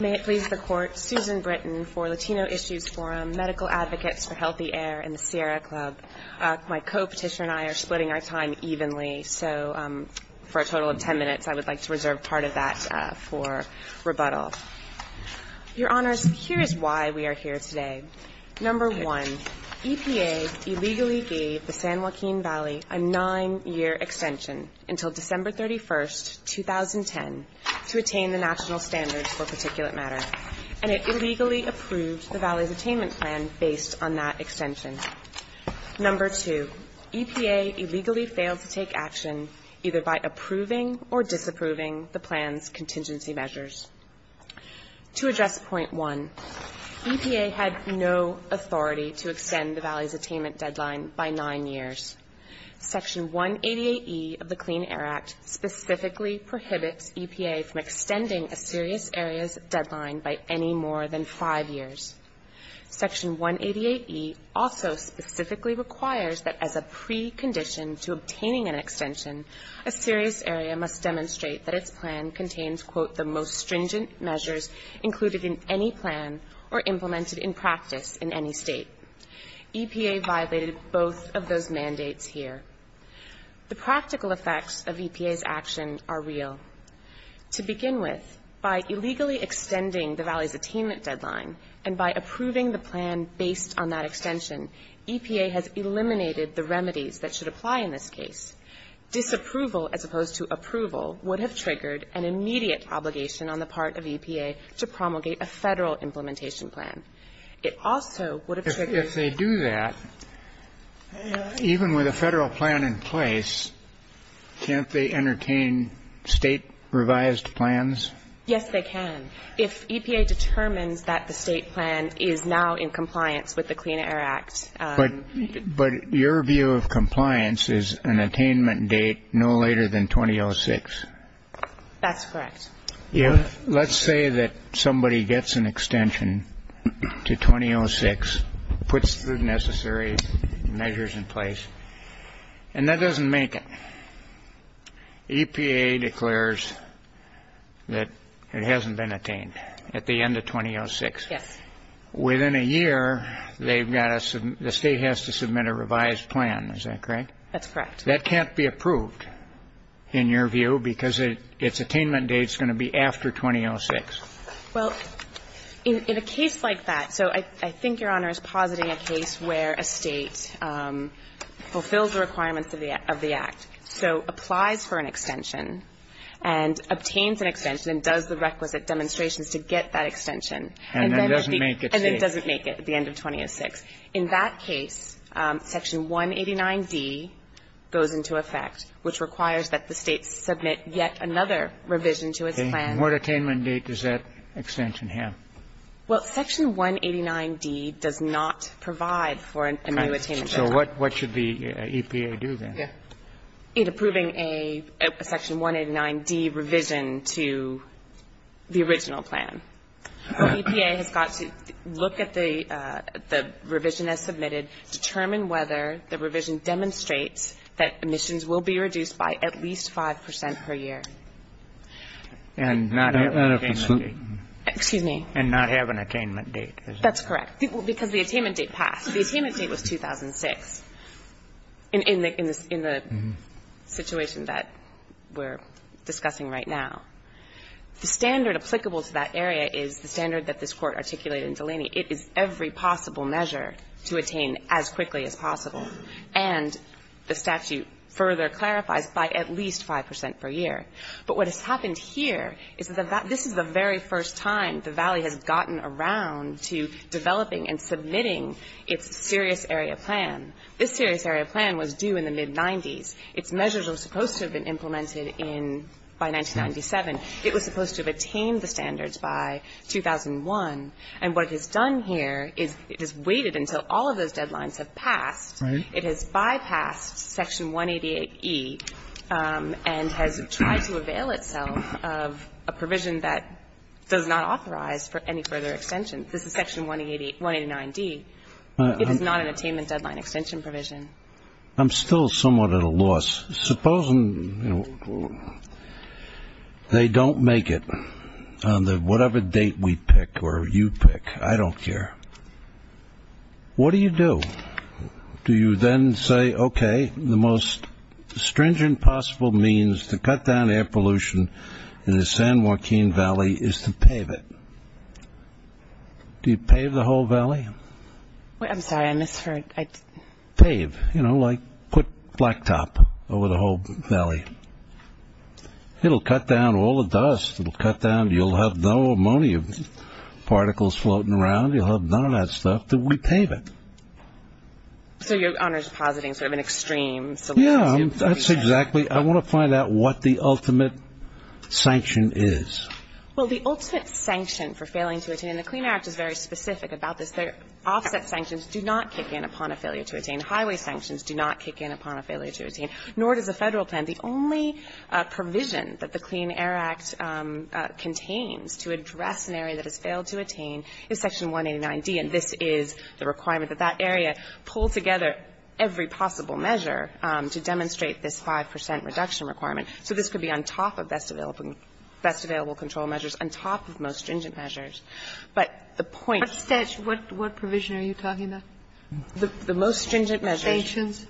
May it please the Court, Susan Britton for Latino Issues Forum, Medical Advocates for Healthy Air, and the Sierra Club. My co-petitioner and I are splitting our time evenly, so for a total of 10 minutes I would like to reserve part of that for rebuttal. Your Honors, here is why we are here today. 1. EPA illegally gave the San Joaquin Valley a nine-year extension until December 31, 2010 to attain the national standards for particulate matter, and it illegally approved the Valley's attainment plan based on that extension. 2. EPA illegally failed to take action either by approving or disapproving the plan's contingency measures. 3. EPA had no authority to extend the Valley's attainment deadline by nine years. Section 188E of the Clean Air Act specifically prohibits EPA from extending a serious area's deadline by any more than five years. Section 188E also specifically requires that as a precondition to obtaining an extension, a serious area must demonstrate that its plan contains, quote, the most stringent measures included in any plan or implemented in practice in any state. EPA violated both of those mandates here. The practical effects of EPA's action are real. To begin with, by illegally extending the Valley's attainment deadline and by approving the plan based on that extension, EPA has eliminated the remedies that should apply in this case. Disapproval, as opposed to approval, would have triggered an immediate obligation on the part of EPA to promulgate a Federal implementation plan. It also would have triggered If they do that, even with a Federal plan in place, can't they entertain state revised plans? Yes, they can. If EPA determines that the state plan is now in compliance with the Clean Air Act. But your view of compliance is an attainment date no later than 2006. That's correct. Let's say that somebody gets an extension to 2006, puts the necessary measures in place, and that doesn't make it. EPA declares that it hasn't been attained at the end of 2006. Yes. Within a year, they've got to the state has to submit a revised plan. Is that correct? That's correct. That can't be approved, in your view, because its attainment date is going to be after 2006. Well, in a case like that, so I think Your Honor is positing a case where a state fulfills the requirements of the Act. So applies for an extension and obtains an extension and does the requisite demonstrations to get that extension. And then it doesn't make it. And then it doesn't make it at the end of 2006. In that case, Section 189d goes into effect, which requires that the state submit yet another revision to its plan. And what attainment date does that extension have? Well, Section 189d does not provide for a new attainment date. So what should the EPA do then? In approving a Section 189d revision to the original plan, the EPA has got to look at the revision as submitted, determine whether the revision demonstrates that emissions will be reduced by at least 5 percent per year. And not have an attainment date. Excuse me. And not have an attainment date. That's correct. Because the attainment date passed. The attainment date was 2006 in the situation that we're discussing right now. The standard applicable to that area is the standard that this Court articulated in Delaney. It is every possible measure to attain as quickly as possible. And the statute further clarifies by at least 5 percent per year. But what has happened here is that this is the very first time the Valley has gotten around to developing and submitting its serious area plan. This serious area plan was due in the mid-'90s. Its measures were supposed to have been implemented in by 1997. It was supposed to have attained the standards by 2001. And what it has done here is it has waited until all of those deadlines have passed. It has bypassed Section 188e and has tried to avail itself of a provision that does not authorize for any further extension. This is Section 189d. It is not an attainment deadline extension provision. I'm still somewhat at a loss. Supposing they don't make it on whatever date we pick or you pick. I don't care. What do you do? Do you then say, okay, the most stringent possible means to cut down air pollution in the San Joaquin Valley is to pave it. Do you pave the whole Valley? I'm sorry, I misheard. Pave. You know, like put blacktop over the whole Valley. It will cut down all the dust. It will cut down. You will have no ammonia particles floating around. You will have none of that stuff. We pave it. So you are positing sort of an extreme solution. Yeah, that's exactly. I want to find out what the ultimate sanction is. Well, the ultimate sanction for failing to attain, and the Clean Air Act is very specific about this. Offset sanctions do not kick in upon a failure to attain. Highway sanctions do not kick in upon a failure to attain. Nor does the Federal plan. The only provision that the Clean Air Act contains to address an area that has failed to attain is Section 189d. And this is the requirement that that area pull together every possible measure to demonstrate this 5 percent reduction requirement. So this could be on top of best available control measures, on top of most stringent measures. But the point of the statute. What provision are you talking about? The most stringent measures. Sanctions?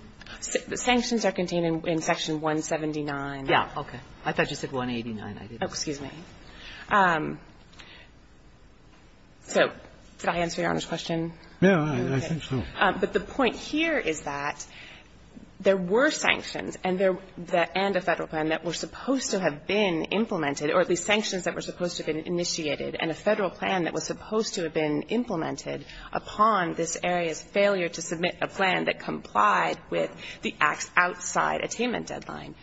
Sanctions are contained in Section 179. Yeah, okay. I thought you said 189. Oh, excuse me. So did I answer Your Honor's question? No, I think so. But the point here is that there were sanctions and a Federal plan that were supposed to have been implemented, or at least sanctions that were supposed to have been initiated, and a Federal plan that was supposed to have been implemented upon this area's failure to submit a plan that complied with the outside attainment deadline.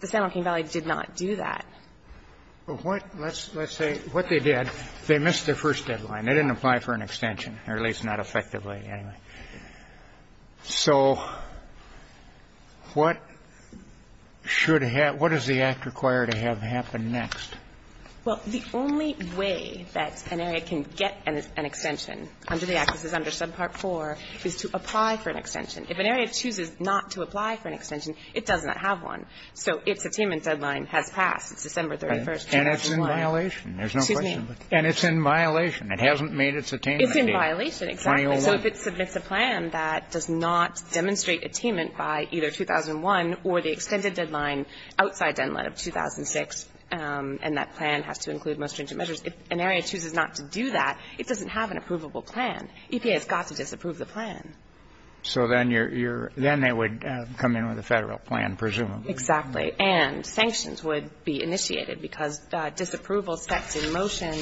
The San Joaquin Valley did not do that. Well, let's say what they did, they missed their first deadline. They didn't apply for an extension, or at least not effectively, anyway. So what should have ñ what does the Act require to have happen next? Well, the only way that an area can get an extension under the Act, this is under subpart 4, is to apply for an extension. If an area chooses not to apply for an extension, it does not have one. So its attainment deadline has passed. It's December 31st, 2001. And it's in violation. There's no question. Excuse me. And it's in violation. It hasn't made its attainment date. It's in violation, exactly. So if it submits a plan that does not demonstrate attainment by either 2001 or the extended deadline outside deadline of 2006, and that plan has to include most stringent measures, if an area chooses not to do that, it doesn't have an approvable plan. EPA has got to disapprove the plan. So then you're ñ then they would come in with a Federal plan, presumably. Exactly. And sanctions would be initiated, because disapproval sets in motion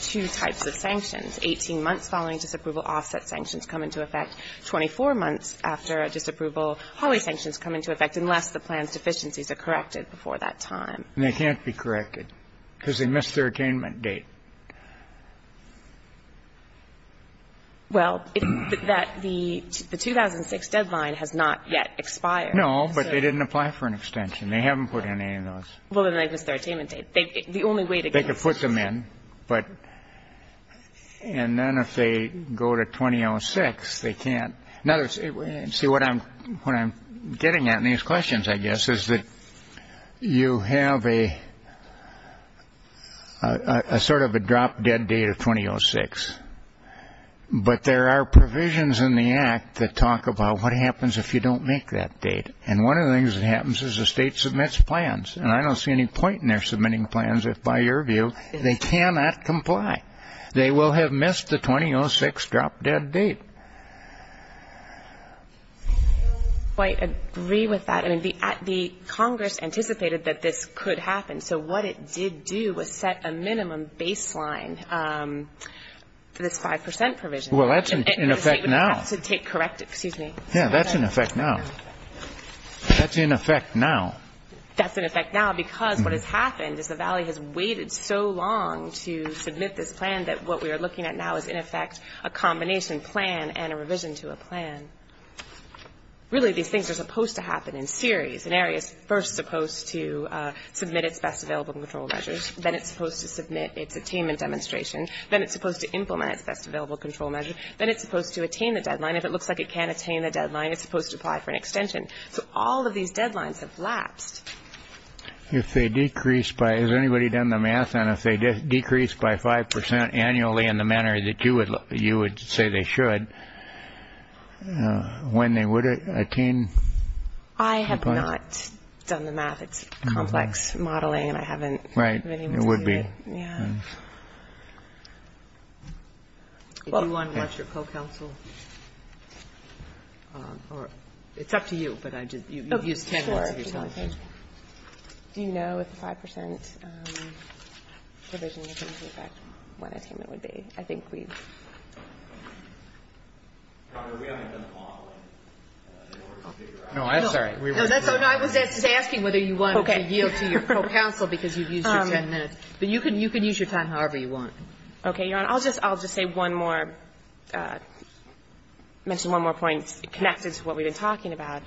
two types of sanctions. Eighteen months following disapproval, offset sanctions come into effect. Twenty-four months after a disapproval, holly sanctions come into effect, unless the plan's deficiencies are corrected before that time. And they can't be corrected because they missed their attainment date. Well, that the 2006 deadline has not yet expired. No, but they didn't apply for an extension. They haven't put in any of those. Well, then they missed their attainment date. The only way to get ñ They could put them in, but ñ and then if they go to 2006, they can't. In other words, see, what I'm getting at in these questions, I guess, is that you have a sort of a drop-dead date of 2006, but there are provisions in the Act that talk about what happens if you don't make that date. And one of the things that happens is the state submits plans. And I don't see any point in their submitting plans if, by your view, they cannot comply. They will have missed the 2006 drop-dead date. I don't quite agree with that. I mean, the Congress anticipated that this could happen, so what it did do was set a minimum baseline for this 5 percent provision. Well, that's in effect now. To take corrective ñ excuse me. Yeah, that's in effect now. That's in effect now. That's in effect now because what has happened is the valley has waited so long to submit this plan that what we are looking at now is, in effect, a combination plan and a revision to a plan. Really, these things are supposed to happen in series. An area is first supposed to submit its best available control measures. Then it's supposed to submit its attainment demonstration. Then it's supposed to implement its best available control measure. Then it's supposed to attain the deadline. If it looks like it can attain the deadline, it's supposed to apply for an extension. So all of these deadlines have lapsed. If they decrease by ñ has anybody done the math on if they decrease by 5 percent annually in the manner that you would say they should, when they would attain? I have not done the math. It's complex modeling, and I haven't ñ Right. It would be. Yeah. Do you want to watch your co-counsel? It's up to you, but I just ñ you've used ten minutes of your time. Do you know if the 5 percent provision in effect when attainment would be? I think we've ñ We haven't done the modeling in order to figure out. No, I'm sorry. No, I was just asking whether you wanted to yield to your co-counsel because you've used your ten minutes. But you can use your time however you want. Okay, Your Honor. I'll just say one more ñ mention one more point connected to what we've been talking about.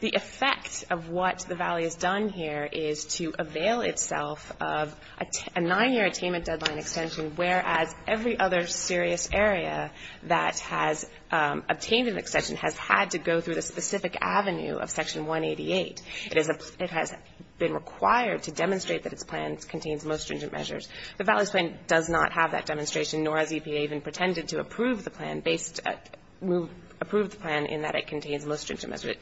The effect of what the valley has done here is to avail itself of a 9-year attainment deadline extension, whereas every other serious area that has obtained an extension has had to go through the specific avenue of Section 188. It has been required to demonstrate that its plan contains most stringent measures. The valley's plan does not have that demonstration, nor has EPA even pretended to approve the plan based ñ approve the plan in that it contains most stringent measures.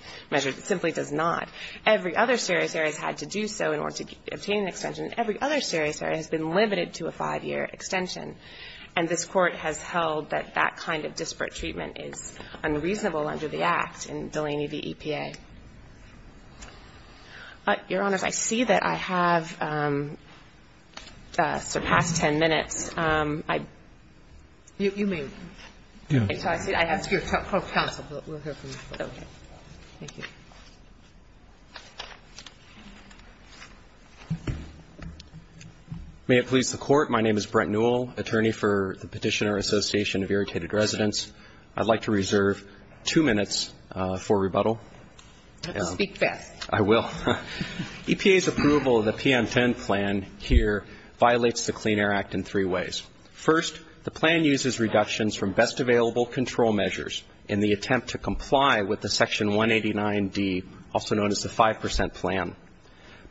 It simply does not. Every other serious area has had to do so in order to obtain an extension. Every other serious area has been limited to a 5-year extension, and this Court has held that that kind of disparate treatment is unreasonable under the act in Delaney v. EPA. Your Honor, I see that I have surpassed 10 minutes. I ñ You may leave. Okay. So I see that I have ñ That's your counsel. We'll hear from you. Okay. Thank you. May it please the Court, my name is Brent Newell, attorney for the Petitioner Association of Irritated Residents. I'd like to reserve two minutes for rebuttal. Speak fast. I will. EPA's approval of the PM10 plan here violates the Clean Air Act in three ways. First, the plan uses reductions from best available control measures in the attempt to comply with the Section 189D, also known as the 5 percent plan.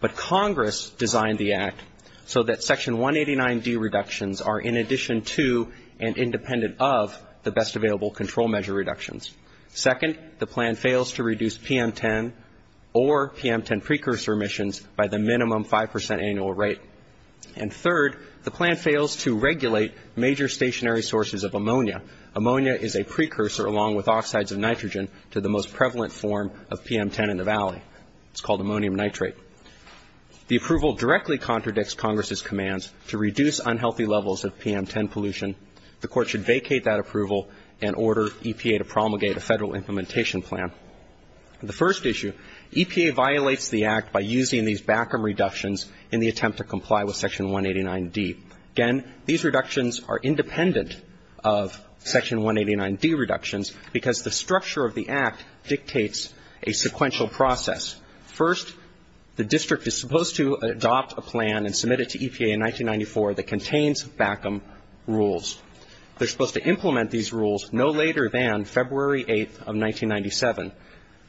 But Congress designed the act so that Section 189D reductions are in addition to and independent of the best available control measure reductions. Second, the plan fails to reduce PM10 or PM10 precursor emissions by the minimum 5 percent annual rate. And third, the plan fails to regulate major stationary sources of ammonia. Ammonia is a precursor along with oxides of nitrogen to the most prevalent form of PM10 in the Valley. It's called ammonium nitrate. The approval directly contradicts Congress's commands to reduce unhealthy levels of PM10 pollution. The Court should vacate that approval and order EPA to promulgate a Federal implementation plan. The first issue, EPA violates the act by using these backroom reductions in the attempt to comply with Section 189D. Again, these reductions are independent of Section 189D reductions because the structure of the act dictates a sequential process. First, the district is supposed to adopt a plan and submit it to EPA in 1994 that contains backroom rules. They're supposed to implement these rules no later than February 8th of 1997.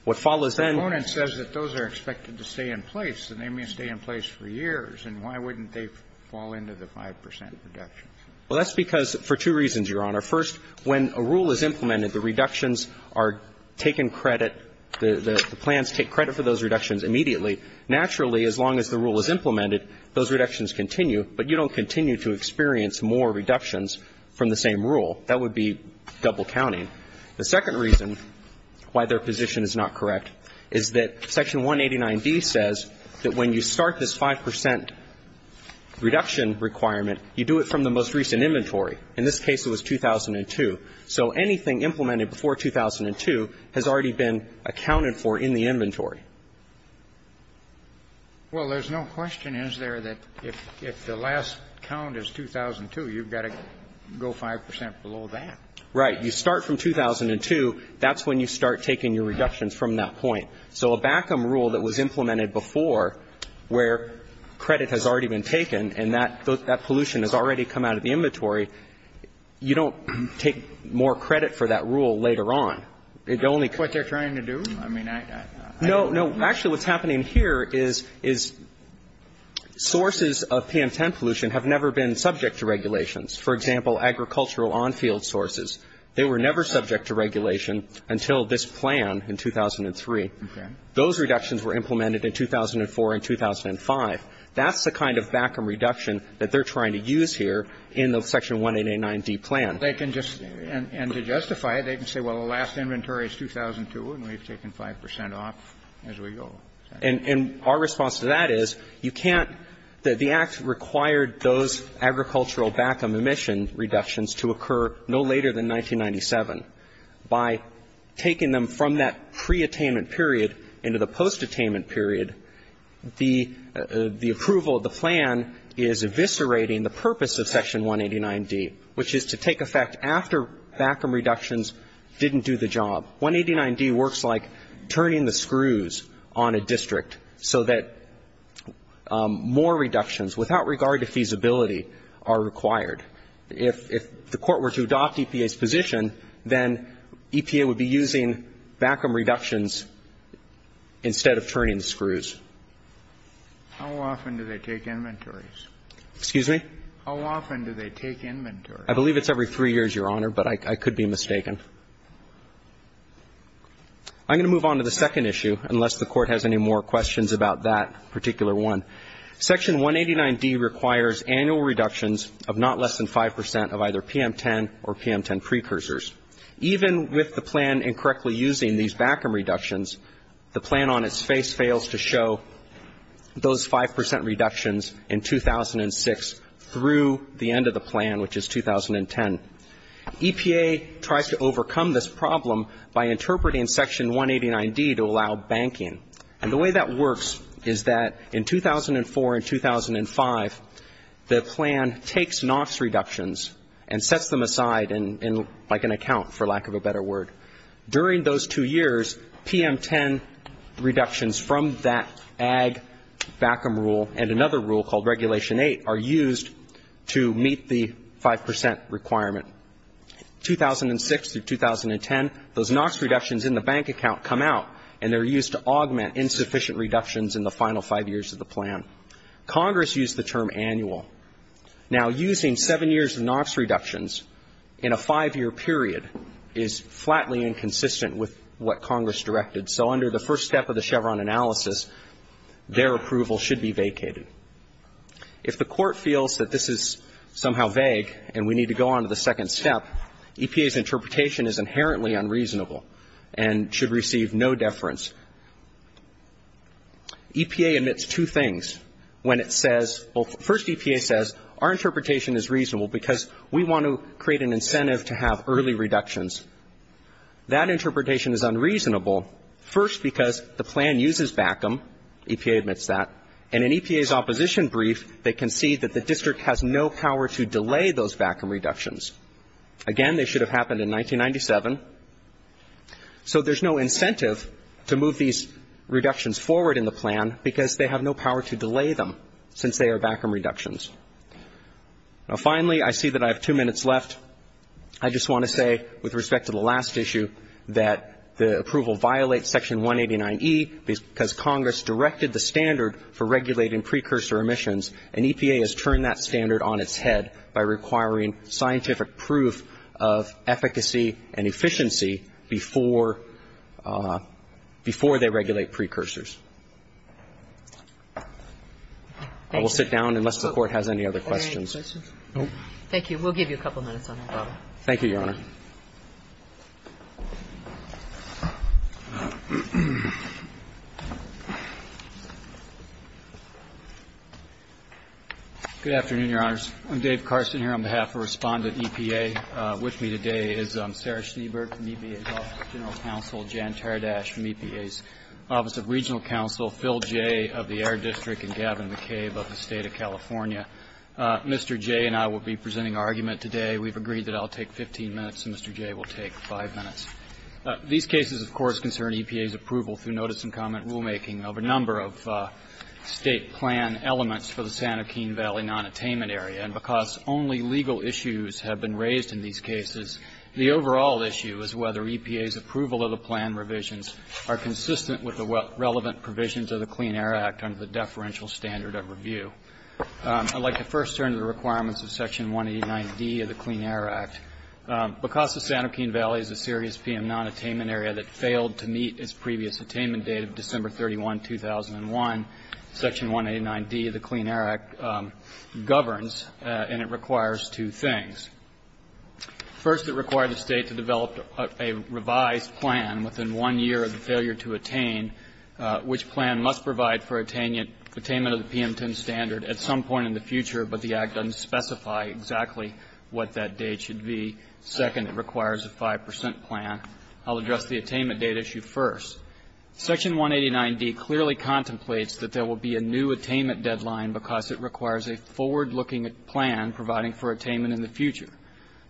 What follows then ---- The component says that those are expected to stay in place, and they may stay in place for years. And why wouldn't they fall into the 5 percent reductions? Well, that's because for two reasons, Your Honor. First, when a rule is implemented, the reductions are taken credit, the plans take credit for those reductions immediately. Naturally, as long as the rule is implemented, those reductions continue. But you don't continue to experience more reductions from the same rule. That would be double counting. The second reason why their position is not correct is that Section 189D says that when you start this 5 percent reduction requirement, you do it from the most recent inventory. In this case, it was 2002. Well, there's no question, is there, that if the last count is 2002, you've got to go 5 percent below that. Right. You start from 2002. That's when you start taking your reductions from that point. So a backroom rule that was implemented before where credit has already been taken and that pollution has already come out of the inventory, you don't take more credit for that rule later on. What they're trying to do? I mean, I don't know. Actually, what's happening here is sources of PM10 pollution have never been subject to regulations. For example, agricultural on-field sources, they were never subject to regulation until this plan in 2003. Okay. Those reductions were implemented in 2004 and 2005. That's the kind of backroom reduction that they're trying to use here in the Section 189D plan. They can just – and to justify it, they can say, well, the last inventory is 2002 and we've taken 5 percent off as we go. And our response to that is you can't – the Act required those agricultural backroom emission reductions to occur no later than 1997. By taking them from that preattainment period into the postattainment period, the approval of the plan is eviscerating the purpose of Section 189D, which is to take effect after backroom reductions didn't do the job. Section 189D works like turning the screws on a district so that more reductions without regard to feasibility are required. If the Court were to adopt EPA's position, then EPA would be using backroom reductions instead of turning the screws. How often do they take inventories? Excuse me? How often do they take inventories? I believe it's every three years, Your Honor, but I could be mistaken. I'm going to move on to the second issue, unless the Court has any more questions about that particular one. Section 189D requires annual reductions of not less than 5 percent of either PM10 or PM10 precursors. Even with the plan incorrectly using these backroom reductions, the plan on its face fails to show those 5 percent reductions in 2006 through the end of the plan, which is 2010. EPA tries to overcome this problem by interpreting Section 189D to allow banking. And the way that works is that in 2004 and 2005, the plan takes NOFs reductions and sets them aside in like an account, for lack of a better word. During those two years, PM10 reductions from that ag backroom rule and another rule called Regulation 8 are used to meet the 5 percent requirement. In 2006 through 2010, those NOFs reductions in the bank account come out, and they're used to augment insufficient reductions in the final five years of the plan. Congress used the term annual. Now, using seven years of NOFs reductions in a five-year period is flatly inconsistent with what Congress directed. So under the first step of the Chevron analysis, their approval should be vacated. If the Court feels that this is somehow vague and we need to go on to the second step, EPA's interpretation is inherently unreasonable and should receive no deference. EPA admits two things when it says or first EPA says our interpretation is reasonable because we want to create an incentive to have early reductions. That interpretation is unreasonable, first because the plan uses BACM. EPA admits that. And in EPA's opposition brief, they concede that the district has no power to delay those BACM reductions. Again, they should have happened in 1997. So there's no incentive to move these reductions forward in the plan because they have no power to delay them since they are BACM reductions. Now, finally, I see that I have two minutes left. I just want to say, with respect to the last issue, that the approval violates Section 189e because Congress directed the standard for regulating precursor emissions, and EPA has turned that standard on its head by requiring scientific proof of efficacy and efficiency before they regulate precursors. I will sit down unless the Court has any other questions. Thank you. We'll give you a couple minutes on that problem. Thank you, Your Honor. Good afternoon, Your Honors. I'm Dave Carson here on behalf of Respondent EPA. With me today is Sarah Schneeberg from EPA's Office of General Counsel, Jan Tardash from EPA's Office of Regional Counsel, Phil Jay of the Air District, and Gavin McCabe of the State of California. Mr. Jay and I will be presenting our argument today. We've agreed that I'll take 15 minutes and Mr. Jay will take 5 minutes. These cases, of course, concern EPA's approval through notice and comment rulemaking of a number of State plan elements for the San Joaquin Valley nonattainment area, and because only legal issues have been raised in these cases, the overall issue is whether EPA's approval of the plan revisions are consistent with the relevant I'd like to first turn to the requirements of Section 189D of the Clean Air Act. Because the San Joaquin Valley is a serious PM-9 attainment area that failed to meet its previous attainment date of December 31, 2001, Section 189D of the Clean Air Act governs and it requires two things. First, it required the State to develop a revised plan within one year of the failure to attain which plan must provide for attainment of the PM-10 standard at some point in the future, but the Act doesn't specify exactly what that date should be. Second, it requires a 5 percent plan. I'll address the attainment date issue first. Section 189D clearly contemplates that there will be a new attainment deadline because it requires a forward-looking plan providing for attainment in the future.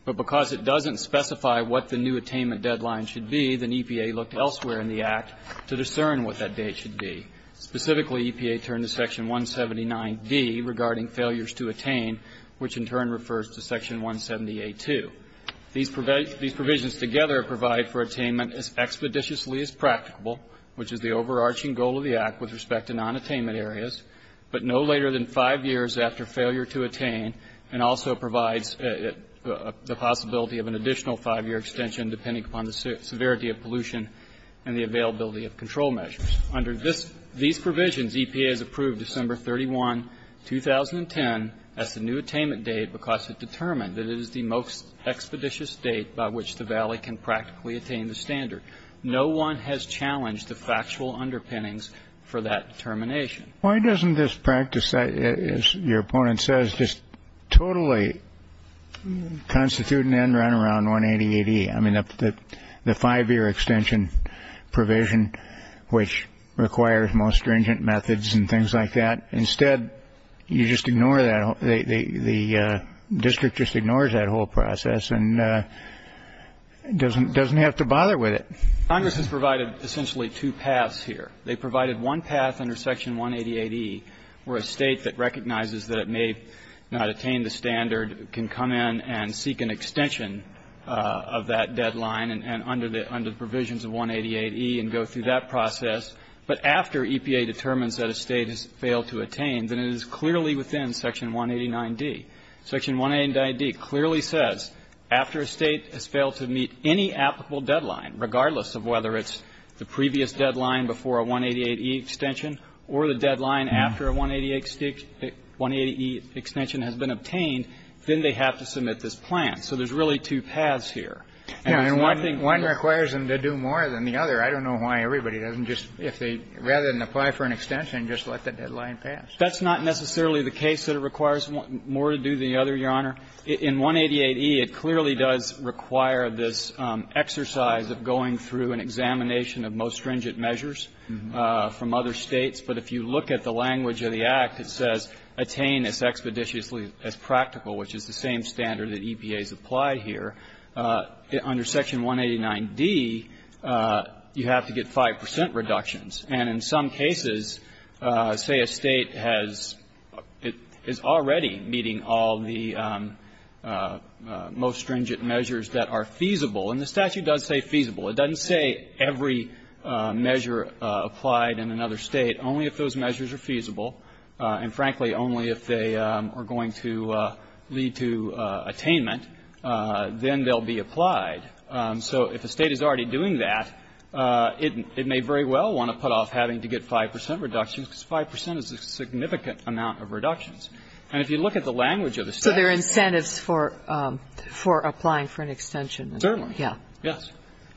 But because it doesn't specify what the new attainment deadline should be, then EPA looked elsewhere in the Act to discern what that date should be. Specifically, EPA turned to Section 179D regarding failures to attain, which in turn refers to Section 170A2. These provisions together provide for attainment as expeditiously as practicable, which is the overarching goal of the Act with respect to nonattainment areas, but no later than five years after failure to attain, and also provides the possibility of an additional five-year extension depending upon the severity of pollution and the availability of control measures. Under these provisions, EPA has approved December 31, 2010 as the new attainment date because it determined that it is the most expeditious date by which the Valley can practically attain the standard. No one has challenged the factual underpinnings for that determination. Why doesn't this practice, as your opponent says, just totally constitute an end-run around 180AD? I mean, the five-year extension provision, which requires most stringent methods and things like that. Instead, you just ignore that. The district just ignores that whole process and doesn't have to bother with it. Congress has provided essentially two paths here. They provided one path under Section 180AD, where a state that recognizes that it may not attain the standard can come in and seek an extension of that deadline under the provisions of 188E and go through that process. But after EPA determines that a state has failed to attain, then it is clearly within Section 189D. Section 189D clearly says after a state has failed to meet any applicable deadline, regardless of whether it's the previous deadline before a 188E extension or the deadline after a 188E extension has been obtained, then they have to submit this plan. So there's really two paths here. And it's one thing to do. Kennedy. One requires them to do more than the other. I don't know why everybody doesn't just, if they, rather than apply for an extension, just let the deadline pass. That's not necessarily the case that it requires more to do than the other, Your Honor. In 188E, it clearly does require this exercise of going through an examination of most stringent measures from other states. But if you look at the language of the Act, it says attain as expeditiously as practical, which is the same standard that EPA has applied here. Under Section 189D, you have to get 5 percent reductions. And in some cases, say a state has already meeting all the most stringent measures that are feasible, and the statute does say feasible. It doesn't say every measure applied in another state. Only if those measures are feasible, and frankly, only if they are going to lead to attainment, then they'll be applied. So if a state is already doing that, it may very well want to put off having to get 5 percent reductions, because 5 percent is a significant amount of reductions. And if you look at the language of the statute. So there are incentives for applying for an extension. Certainly.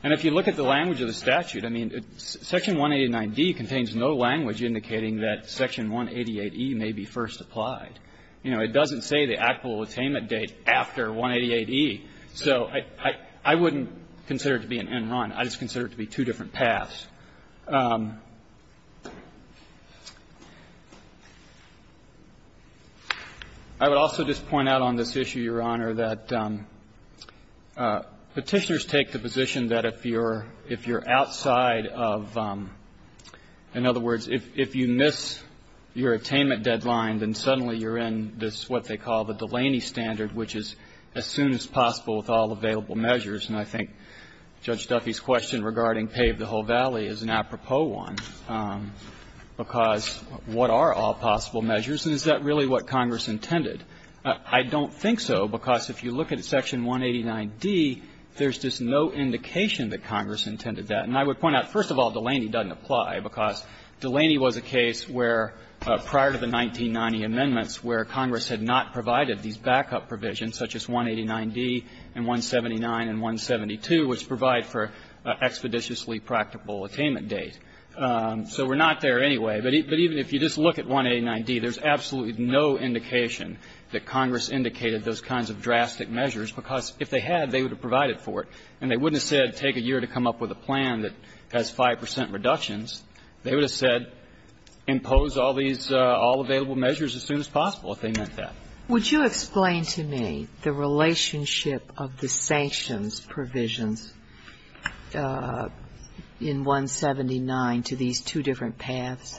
And if you look at the language of the statute, I mean, Section 189D contains no language indicating that Section 188E may be first applied. You know, it doesn't say the actual attainment date after 188E. So I wouldn't consider it to be an end run. I just consider it to be two different paths. I would also just point out on this issue, Your Honor, that Petitioners take the position that if you're outside of, in other words, if you miss your attainment deadline, then suddenly you're in this, what they call the Delaney standard, which is as soon as possible with all available measures. And I think Judge Duffy's question regarding pave the whole valley is an apropos one, because what are all possible measures, and is that really what Congress intended? I don't think so, because if you look at Section 189D, there's just no indication that Congress intended that. And I would point out, first of all, Delaney doesn't apply, because Delaney was a case where, prior to the 1990 amendments, where Congress had not provided these backup provisions, such as 189D and 179 and 172, which provide for an expeditiously practical attainment date. So we're not there anyway. But even if you just look at 189D, there's absolutely no indication. The Congress indicated those kinds of drastic measures, because if they had, they would have provided for it. And they wouldn't have said take a year to come up with a plan that has 5 percent reductions. They would have said impose all these all-available measures as soon as possible if they meant that. Would you explain to me the relationship of the sanctions provisions in 179 to these two different paths?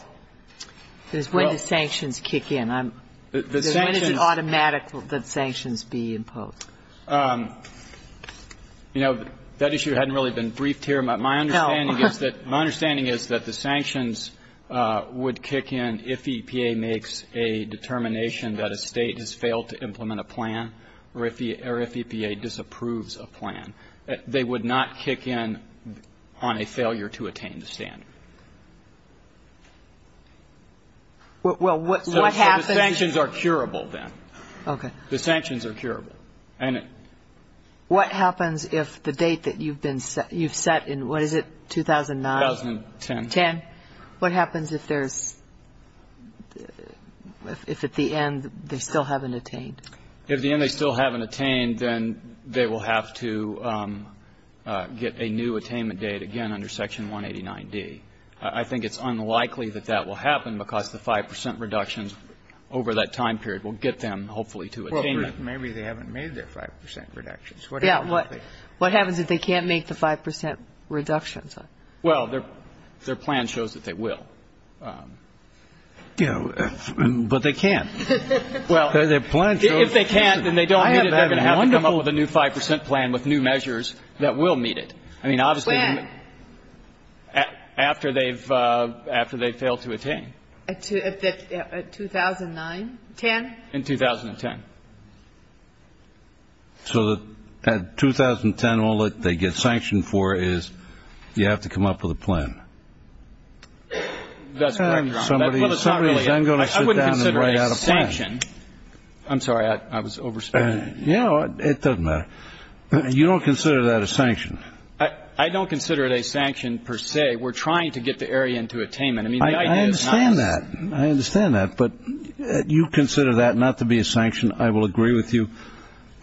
Because when the sanctions kick in, I'm going to jump in. It's an automatic that sanctions be imposed. You know, that issue hadn't really been briefed here. My understanding is that the sanctions would kick in if EPA makes a determination that a State has failed to implement a plan or if EPA disapproves a plan. They would not kick in on a failure to attain the standard. Well, what happens? The sanctions are curable then. Okay. The sanctions are curable. What happens if the date that you've been set, you've set in, what is it, 2009? 2010. 10. What happens if there's, if at the end they still haven't attained? If at the end they still haven't attained, then they will have to get a new attainment date again under Section 189D. I think it's unlikely that that will happen because the 5 percent reductions over that time period will get them hopefully to attain it. Well, maybe they haven't made their 5 percent reductions. Yeah. What happens if they can't make the 5 percent reductions? Well, their plan shows that they will. You know, but they can't. Well, if they can't, then they don't need it. They're going to have to come up with a new 5 percent plan with new measures that will meet it. When? I mean, obviously, after they've failed to attain. At 2009? 10? In 2010. So at 2010, all that they get sanctioned for is you have to come up with a plan. That's correct, Your Honor. Somebody is then going to sit down and write out a plan. I wouldn't consider it a sanction. I'm sorry. I was overspecified. Yeah. It doesn't matter. You don't consider that a sanction? I don't consider it a sanction per se. We're trying to get the area into attainment. I understand that. I understand that. But you consider that not to be a sanction. I will agree with you.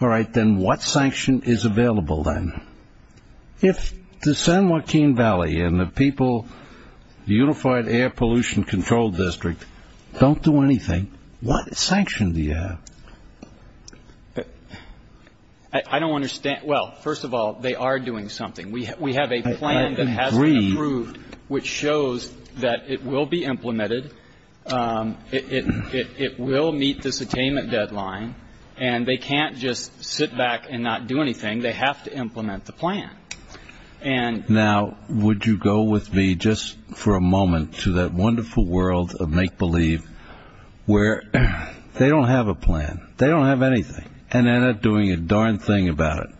All right. Then what sanction is available then? If the San Joaquin Valley and the people, the Unified Air Pollution Control District, don't do anything, what sanction do you have? I don't understand. Well, first of all, they are doing something. We have a plan that has been approved which shows that it will be implemented, it will meet this attainment deadline, and they can't just sit back and not do anything. They have to implement the plan. Now, would you go with me just for a moment to that wonderful world of make-believe where they don't have a plan. They don't have anything. And they're not doing a darn thing about it.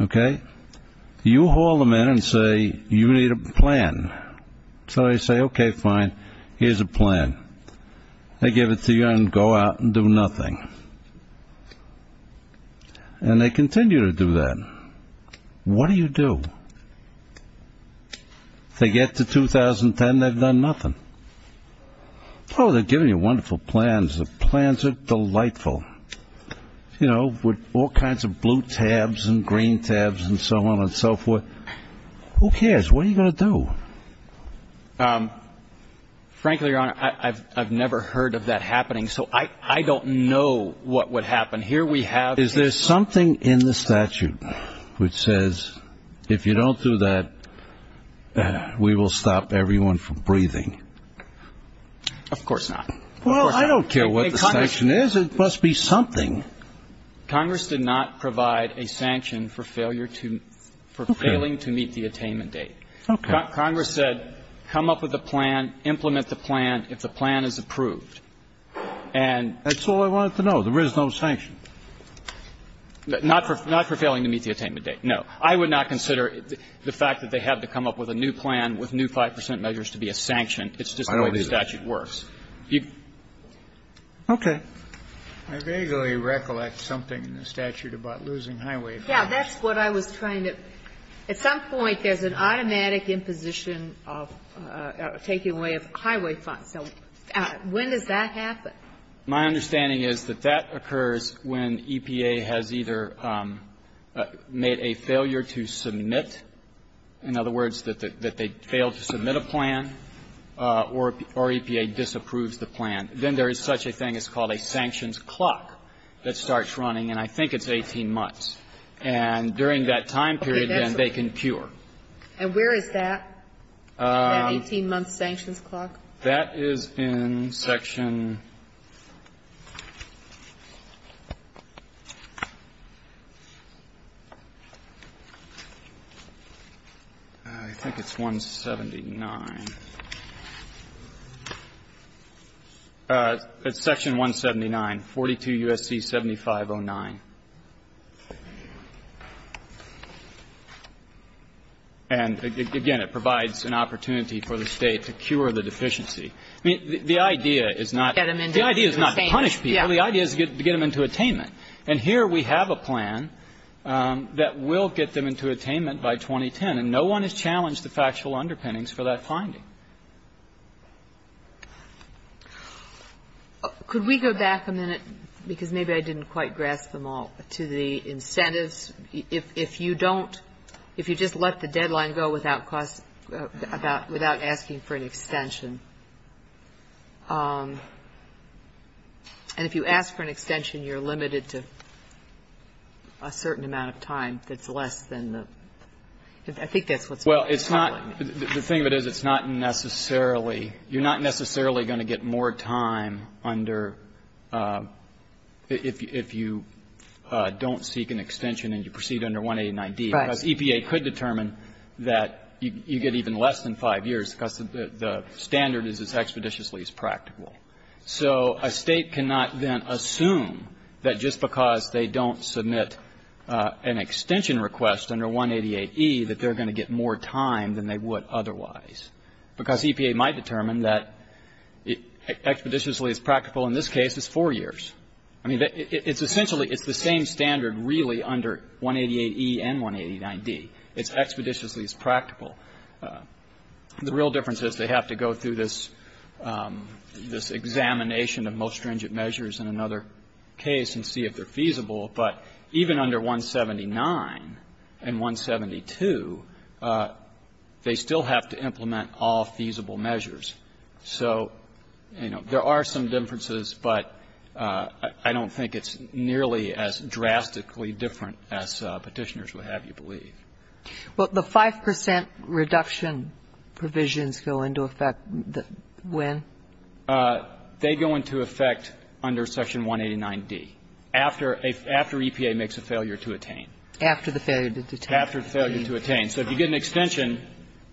Okay? You haul them in and say, you need a plan. So they say, okay, fine, here's a plan. They give it to you and go out and do nothing. And they continue to do that. What do you do? They get to 2010, they've done nothing. Oh, they're giving you wonderful plans. The plans are delightful, you know, with all kinds of blue tabs and green tabs and so on and so forth. Who cares? What are you going to do? Frankly, Your Honor, I've never heard of that happening, so I don't know what would happen. Is there something in the statute which says if you don't do that, we will stop everyone from breathing? Of course not. Well, I don't care what the sanction is. It must be something. Congress did not provide a sanction for failing to meet the attainment date. Okay. Congress said come up with a plan, implement the plan if the plan is approved. That's all I wanted to know, there is no sanction. Not for failing to meet the attainment date, no. I would not consider the fact that they had to come up with a new plan with new 5 percent measures to be a sanction. I don't either. It's just the way the statute works. Okay. I vaguely recollect something in the statute about losing highway funds. Yeah, that's what I was trying to at some point there's an automatic imposition of taking away of highway funds. So when does that happen? My understanding is that that occurs when EPA has either made a failure to submit, in other words, that they failed to submit a plan or EPA disapproves the plan. Then there is such a thing as called a sanctions clock that starts running, and I think it's 18 months. And during that time period, then, they can cure. And where is that, that 18-month sanctions clock? That is in Section 179. 42 U.S.C. 7509. And, again, it provides an opportunity for the State to cure the deficiency. I mean, the idea is not to punish people. The idea is to get them into attainment. And here we have a plan that will get them into attainment by 2010, and no one has challenged the factual underpinnings for that finding. Could we go back a minute, because maybe I didn't quite grasp them all, to the incentives. If you don't – if you just let the deadline go without asking for an extension and if you ask for an extension, you're limited to a certain amount of time that's less than the – I think that's what's happening. Well, it's not – the thing of it is it's not necessarily – you're not necessarily going to get more time under – if you don't seek an extension and you proceed under 189D. Right. Because EPA could determine that you get even less than 5 years because the standard is as expeditiously as practical. So a State cannot then assume that just because they don't submit an extension request under 188E that they're going to get more time than they would otherwise. Because EPA might determine that expeditiously as practical in this case is 4 years. I mean, it's essentially – it's the same standard really under 188E and 189D. It's expeditiously as practical. The real difference is they have to go through this examination of most stringent measures in another case and see if they're feasible. But even under 179 and 172, they still have to implement all feasible measures. So, you know, there are some differences, but I don't think it's nearly as drastically different as Petitioners would have you believe. Well, the 5 percent reduction provisions go into effect when? They go into effect under section 189D. After EPA makes a failure to attain. After the failure to attain. After the failure to attain. So if you get an extension,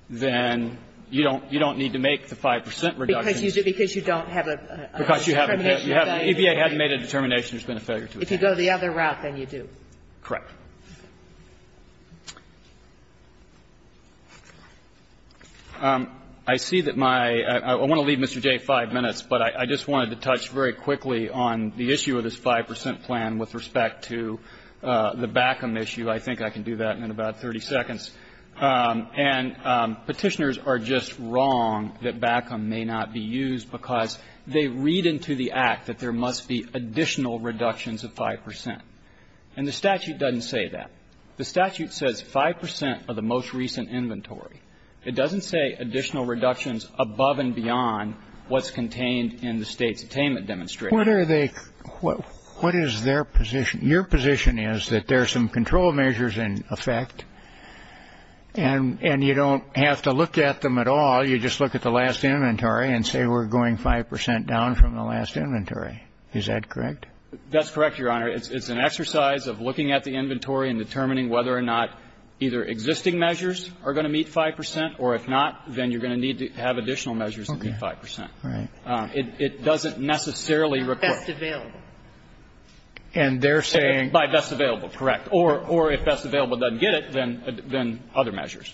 then you don't need to make the 5 percent reduction. Because you don't have a determination value. EPA hasn't made a determination. There's been a failure to attain. If you go the other route, then you do. Correct. I see that my – I want to leave Mr. Jay 5 minutes, but I just wanted to touch very quickly on the issue of this 5 percent plan with respect to the BACM issue. I think I can do that in about 30 seconds. And Petitioners are just wrong that BACM may not be used because they read into the Act that there must be additional reductions of 5 percent. And the statute doesn't say that. The statute says 5 percent of the most recent inventory. It doesn't say additional reductions above and beyond what's contained in the State's payment demonstration. What are they – what is their position? Your position is that there are some control measures in effect and you don't have to look at them at all. You just look at the last inventory and say we're going 5 percent down from the last inventory. Is that correct? That's correct, Your Honor. It's an exercise of looking at the inventory and determining whether or not either existing measures are going to meet 5 percent, or if not, then you're going to need to have additional measures that meet 5 percent. Okay. And that's not necessarily required. Best available. And they're saying – By best available, correct. Or if best available doesn't get it, then other measures.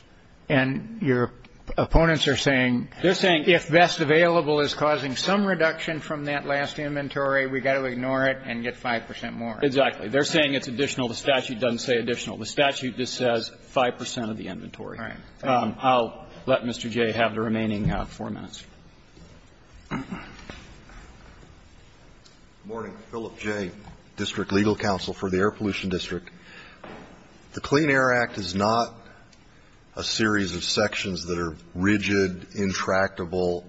And your opponents are saying – They're saying – If best available is causing some reduction from that last inventory, we've got to ignore it and get 5 percent more. Exactly. They're saying it's additional. The statute doesn't say additional. The statute just says 5 percent of the inventory. All right. Thank you. I'll let Mr. Jay have the remaining 4 minutes. Good morning. Philip Jay, District Legal Counsel for the Air Pollution District. The Clean Air Act is not a series of sections that are rigid, intractable,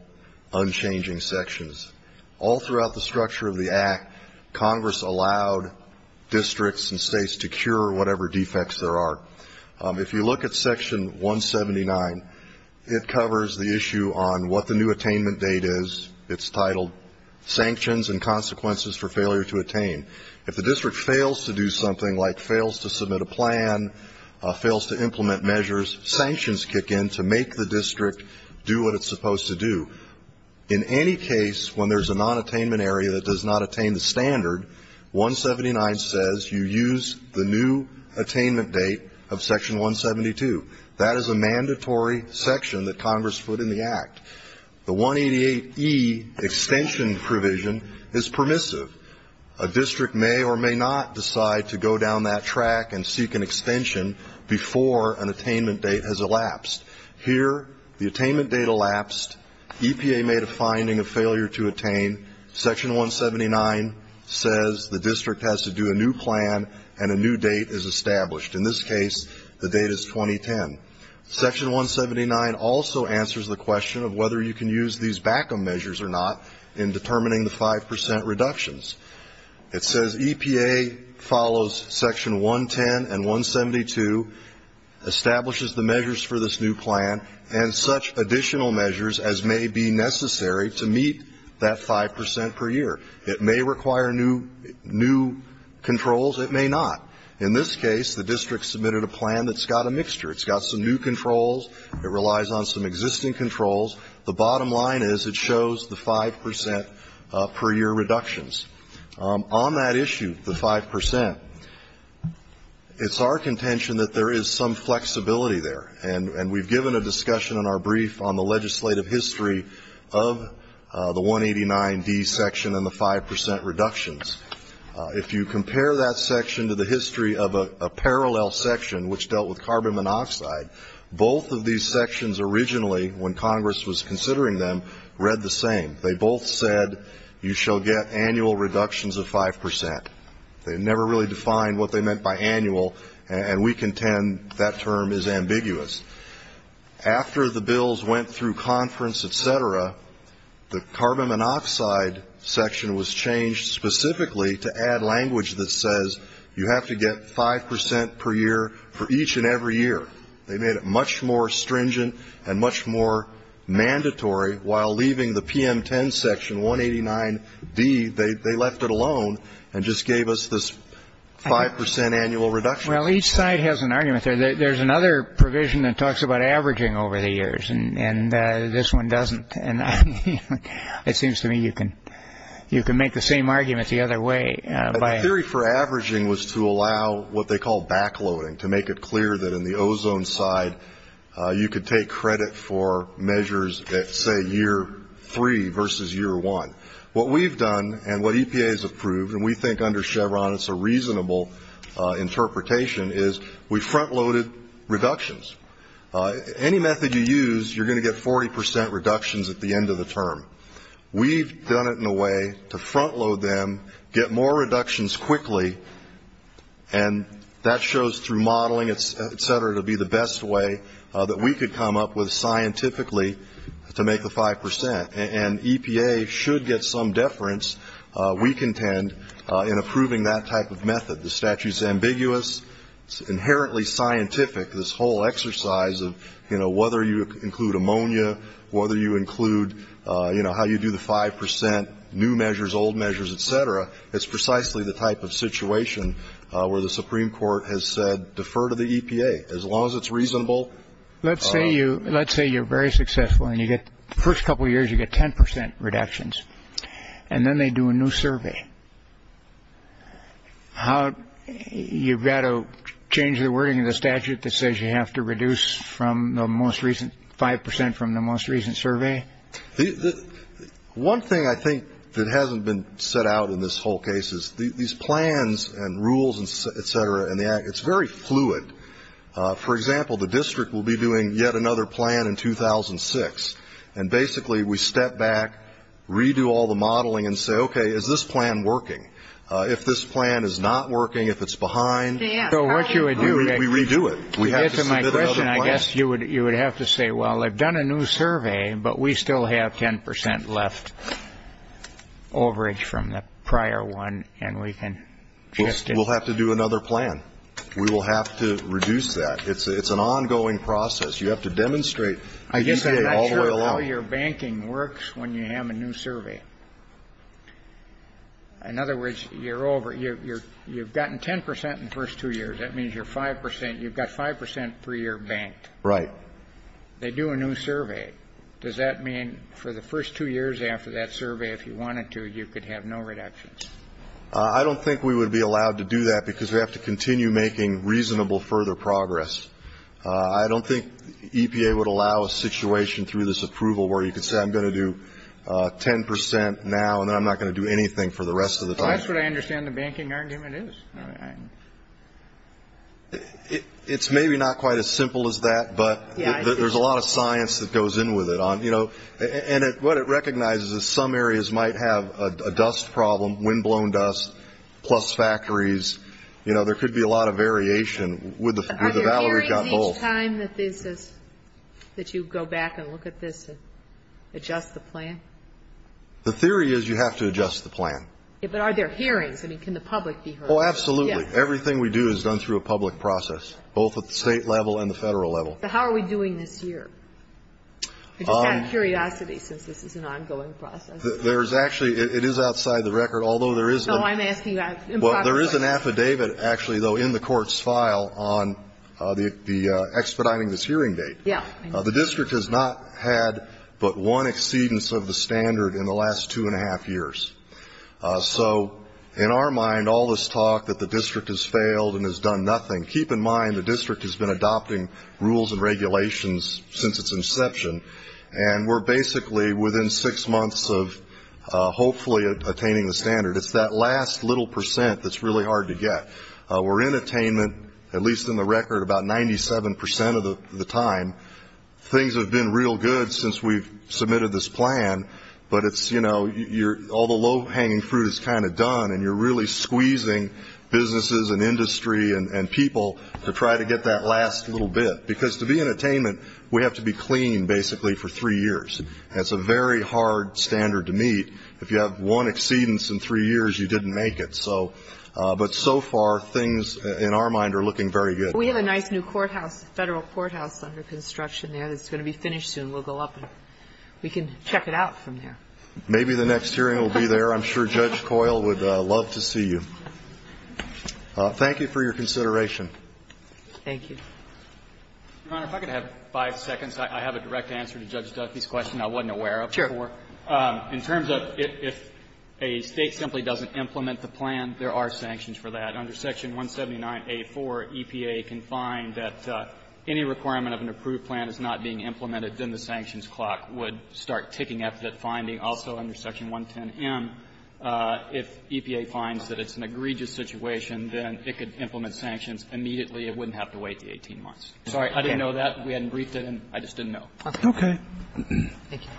unchanging sections. All throughout the structure of the Act, Congress allowed districts and states to cure whatever defects there are. If you look at Section 179, it covers the issue on what the new attainment date is. It's titled, Sanctions and Consequences for Failure to Attain. If the district fails to do something, like fails to submit a plan, fails to implement measures, sanctions kick in to make the district do what it's supposed to do. In any case, when there's a non-attainment area that does not attain the standard, 179 says you use the new attainment date of Section 172. That is a mandatory section that Congress put in the Act. The 188E extension provision is permissive. A district may or may not decide to go down that track and seek an extension before an attainment date has elapsed. Here, the attainment date elapsed. EPA made a finding of failure to attain. Section 179 says the district has to do a new plan and a new date is established. In this case, the date is 2010. Section 179 also answers the question of whether you can use these back-up measures or not in determining the 5% reductions. It says, EPA follows Section 110 and 172, establishes the measures for this new plan, and such additional measures as may be necessary to meet that 5% per year. It may require new controls. It may not. In this case, the district submitted a plan that's got a mixture. It's got some new controls. It relies on some existing controls. The bottom line is it shows the 5% per year reductions. On that issue, the 5%, it's our contention that there is some flexibility there. And we've given a discussion in our brief on the legislative history of the 189D section and the 5% reductions. If you compare that section to the history of a parallel section, which dealt with carbon monoxide, both of these sections originally, when Congress was considering them, read the same. They both said you shall get annual reductions of 5%. They never really defined what they meant by annual, and we contend that term is ambiguous. After the bills went through conference, et cetera, the carbon monoxide section was changed specifically to add language that says, you have to get 5% per year for each and every year. They made it much more stringent and much more mandatory. While leaving the PM10 section, 189D, they left it alone and just gave us this 5% annual reduction. Well, each side has an argument. There's another provision that talks about averaging over the years, and this one doesn't. And it seems to me you can make the same argument the other way. The theory for averaging was to allow what they call backloading, to make it clear that in the ozone side you could take credit for measures at, say, year three versus year one. What we've done and what EPA has approved, and we think under Chevron it's a reasonable interpretation, is we front-loaded reductions. Any method you use, you're going to get 40% reductions at the end of the term. We've done it in a way to front-load them, get more reductions quickly, and that shows through modeling, et cetera, to be the best way that we could come up with scientifically to make the 5%. And EPA should get some deference, we contend, in approving that type of method. The statute is ambiguous. It's inherently scientific, this whole exercise of, you know, whether you include ammonia, whether you include, you know, how you do the 5%, new measures, old measures, et cetera. It's precisely the type of situation where the Supreme Court has said defer to the EPA, as long as it's reasonable. Let's say you're very successful and the first couple of years you get 10% reductions, and then they do a new survey. You've got to change the wording of the statute that says you have to reduce from the most recent 5% from the most recent survey? One thing I think that hasn't been set out in this whole case is these plans and rules, et cetera, it's very fluid. For example, the district will be doing yet another plan in 2006, and basically we step back, redo all the modeling, and say, okay, is this plan working? If this plan is not working, if it's behind, we redo it. It's my question. I guess you would have to say, well, I've done a new survey, but we still have 10% left, overage from the prior one, and we can adjust it. We'll have to do another plan. We will have to reduce that. It's an ongoing process. You have to demonstrate the EPA all the way along. I guess I'm not sure how your banking works when you have a new survey. In other words, you're over. You've gotten 10% in the first two years. That means you're 5%. You've got 5% per year banked. Right. They do a new survey. Does that mean for the first two years after that survey, if you wanted to, you could have no reductions? I don't think we would be allowed to do that because we have to continue making reasonable further progress. I don't think EPA would allow a situation through this approval where you could say I'm going to do 10% now, and then I'm not going to do anything for the rest of the time. That's what I understand the banking argument is. It's maybe not quite as simple as that, but there's a lot of science that goes in with it. And what it recognizes is some areas might have a dust problem, windblown dust, plus factories. You know, there could be a lot of variation. Are there hearings each time that you go back and look at this and adjust the plan? The theory is you have to adjust the plan. But are there hearings? I mean, can the public be heard? Oh, absolutely. Yes. Everything we do is done through a public process, both at the State level and the Federal level. But how are we doing this year? I just have curiosity since this is an ongoing process. There's actually ‑‑ it is outside the record. Although there is ‑‑ No, I'm asking that improperly. Well, there is an affidavit actually, though, in the court's file on the expediting this hearing date. Yeah. The district has not had but one exceedance of the standard in the last two and a half years. So in our mind, all this talk that the district has failed and has done nothing, keep in mind the district has been adopting rules and regulations since its inception, and we're basically within six months of hopefully attaining the standard. It's that last little percent that's really hard to get. We're in attainment, at least in the record, about 97% of the time. Things have been real good since we've submitted this plan, but it's, you know, all the low-hanging fruit is kind of done, and you're really squeezing businesses and industry and people to try to get that last little bit. Because to be in attainment, we have to be clean, basically, for three years. That's a very hard standard to meet. If you have one exceedance in three years, you didn't make it. And so, but so far, things in our mind are looking very good. We have a nice new courthouse, Federal courthouse under construction there that's going to be finished soon. We'll go up and we can check it out from there. Maybe the next hearing will be there. I'm sure Judge Coyle would love to see you. Thank you for your consideration. Thank you. Your Honor, if I could have five seconds. Sure. In terms of if a State simply doesn't implement the plan, there are sanctions for that. Under section 179A4, EPA can find that any requirement of an approved plan is not being implemented, then the sanctions clock would start ticking at that finding. Also, under section 110M, if EPA finds that it's an egregious situation, then it could implement sanctions immediately. It wouldn't have to wait the 18 months. Sorry, I didn't know that. We hadn't briefed it, and I just didn't know. Okay. Thank you.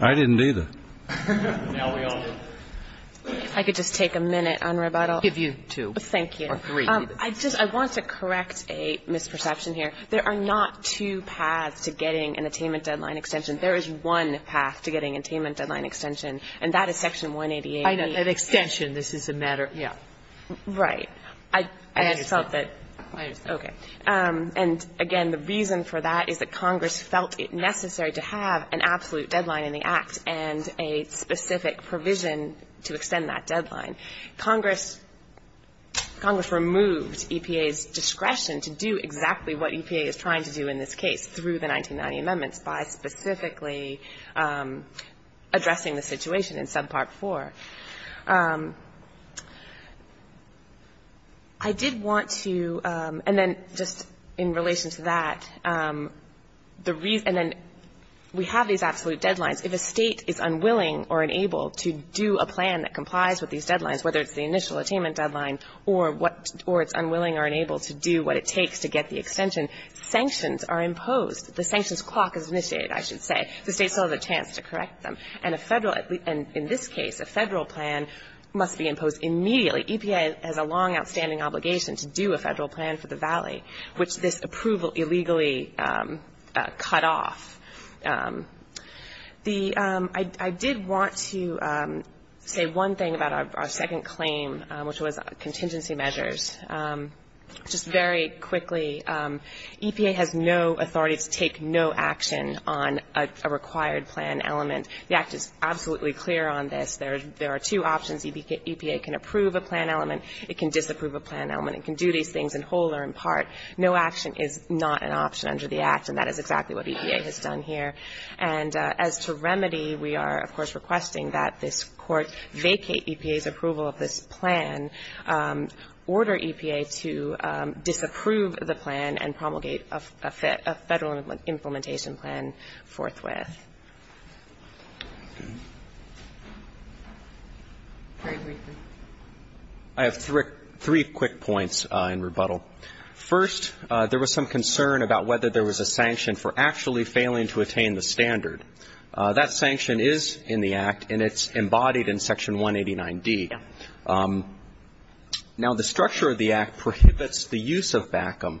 I didn't either. Now we all do. If I could just take a minute on rebuttal. I'll give you two or three. Thank you. I just want to correct a misperception here. There are not two paths to getting an attainment deadline extension. There is one path to getting an attainment deadline extension, and that is section 188. I know. This is a matter. Yeah. Right. I felt that. I understand. Okay. And, again, the reason for that is that Congress felt it necessary to have an absolute deadline in the Act and a specific provision to extend that deadline. Congress removed EPA's discretion to do exactly what EPA is trying to do in this case through the 1990 amendments by specifically addressing the situation in subpart 4. I did want to, and then just in relation to that, the reason, and then we have these absolute deadlines. If a State is unwilling or unable to do a plan that complies with these deadlines, whether it's the initial attainment deadline or it's unwilling or unable to do what it takes to get the extension, sanctions are imposed. The sanctions clock is initiated, I should say. The State still has a chance to correct them. And in this case, a Federal plan must be imposed immediately. EPA has a long outstanding obligation to do a Federal plan for the Valley, which this approval illegally cut off. I did want to say one thing about our second claim, which was contingency measures. Just very quickly, EPA has no authority to take no action on a required plan element. The Act is absolutely clear on this. There are two options. EPA can approve a plan element. It can disapprove a plan element. It can do these things in whole or in part. No action is not an option under the Act, and that is exactly what EPA has done here. And as to remedy, we are, of course, requesting that this Court vacate EPA's approval of this plan, order EPA to disapprove the plan and promulgate a Federal implementation plan forthwith. Okay. Very briefly. I have three quick points in rebuttal. First, there was some concern about whether there was a sanction for actually failing to attain the standard. That sanction is in the Act, and it's embodied in Section 189D. Yeah. Now, the structure of the Act prohibits the use of BACM.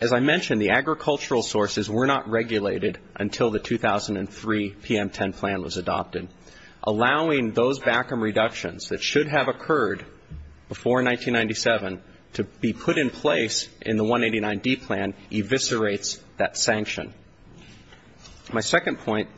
As I mentioned, the agricultural sources were not regulated until the 2003 PM10 plan was adopted. Allowing those BACM reductions that should have occurred before 1997 to be put in place in the 189D plan eviscerates that sanction. My second point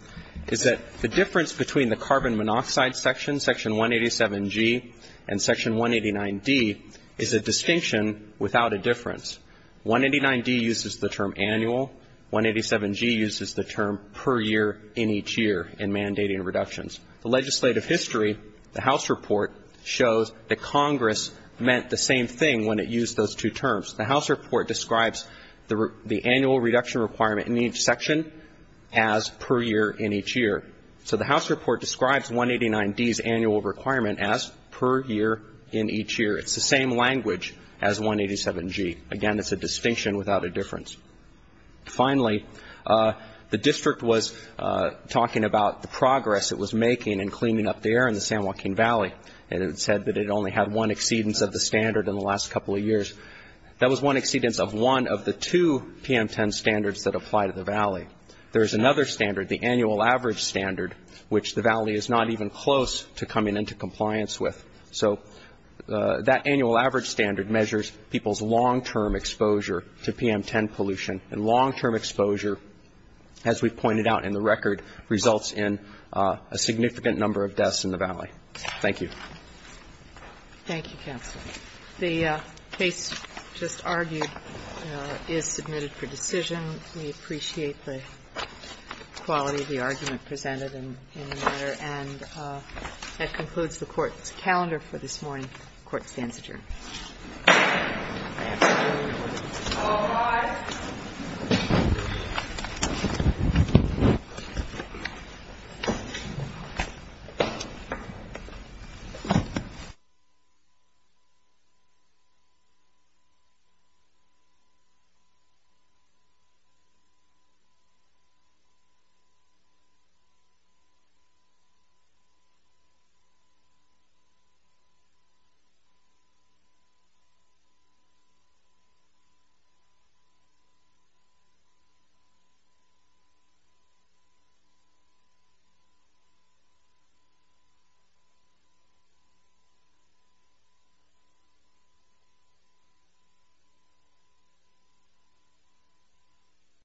is that the difference between the carbon monoxide section, Section 187G, and Section 189D is a distinction without a difference. 189D uses the term annual. 187G uses the term per year in each year in mandating reductions. The legislative history, the House report, shows that Congress meant the same thing when it used those two terms. The House report describes the annual reduction requirement in each section as per year in each year. So the House report describes 189D's annual requirement as per year in each year. It's the same language as 187G. Again, it's a distinction without a difference. Finally, the district was talking about the progress it was making in cleaning up the air in the San Joaquin Valley, and it said that it only had one exceedance of the standard in the last couple of years. That was one exceedance of one of the two PM10 standards that apply to the Valley. There is another standard, the annual average standard, which the Valley is not even close to coming into compliance with. So that annual average standard measures people's long-term exposure to PM10 pollution, and long-term exposure, as we've pointed out in the record, results in a significant number of deaths in the Valley. Thank you. The case just argued is submitted for decision. We appreciate the quality of the argument presented in the matter. And that concludes the Court's calendar for this morning. The Court stands adjourned. Thank you. All rise. Thank you.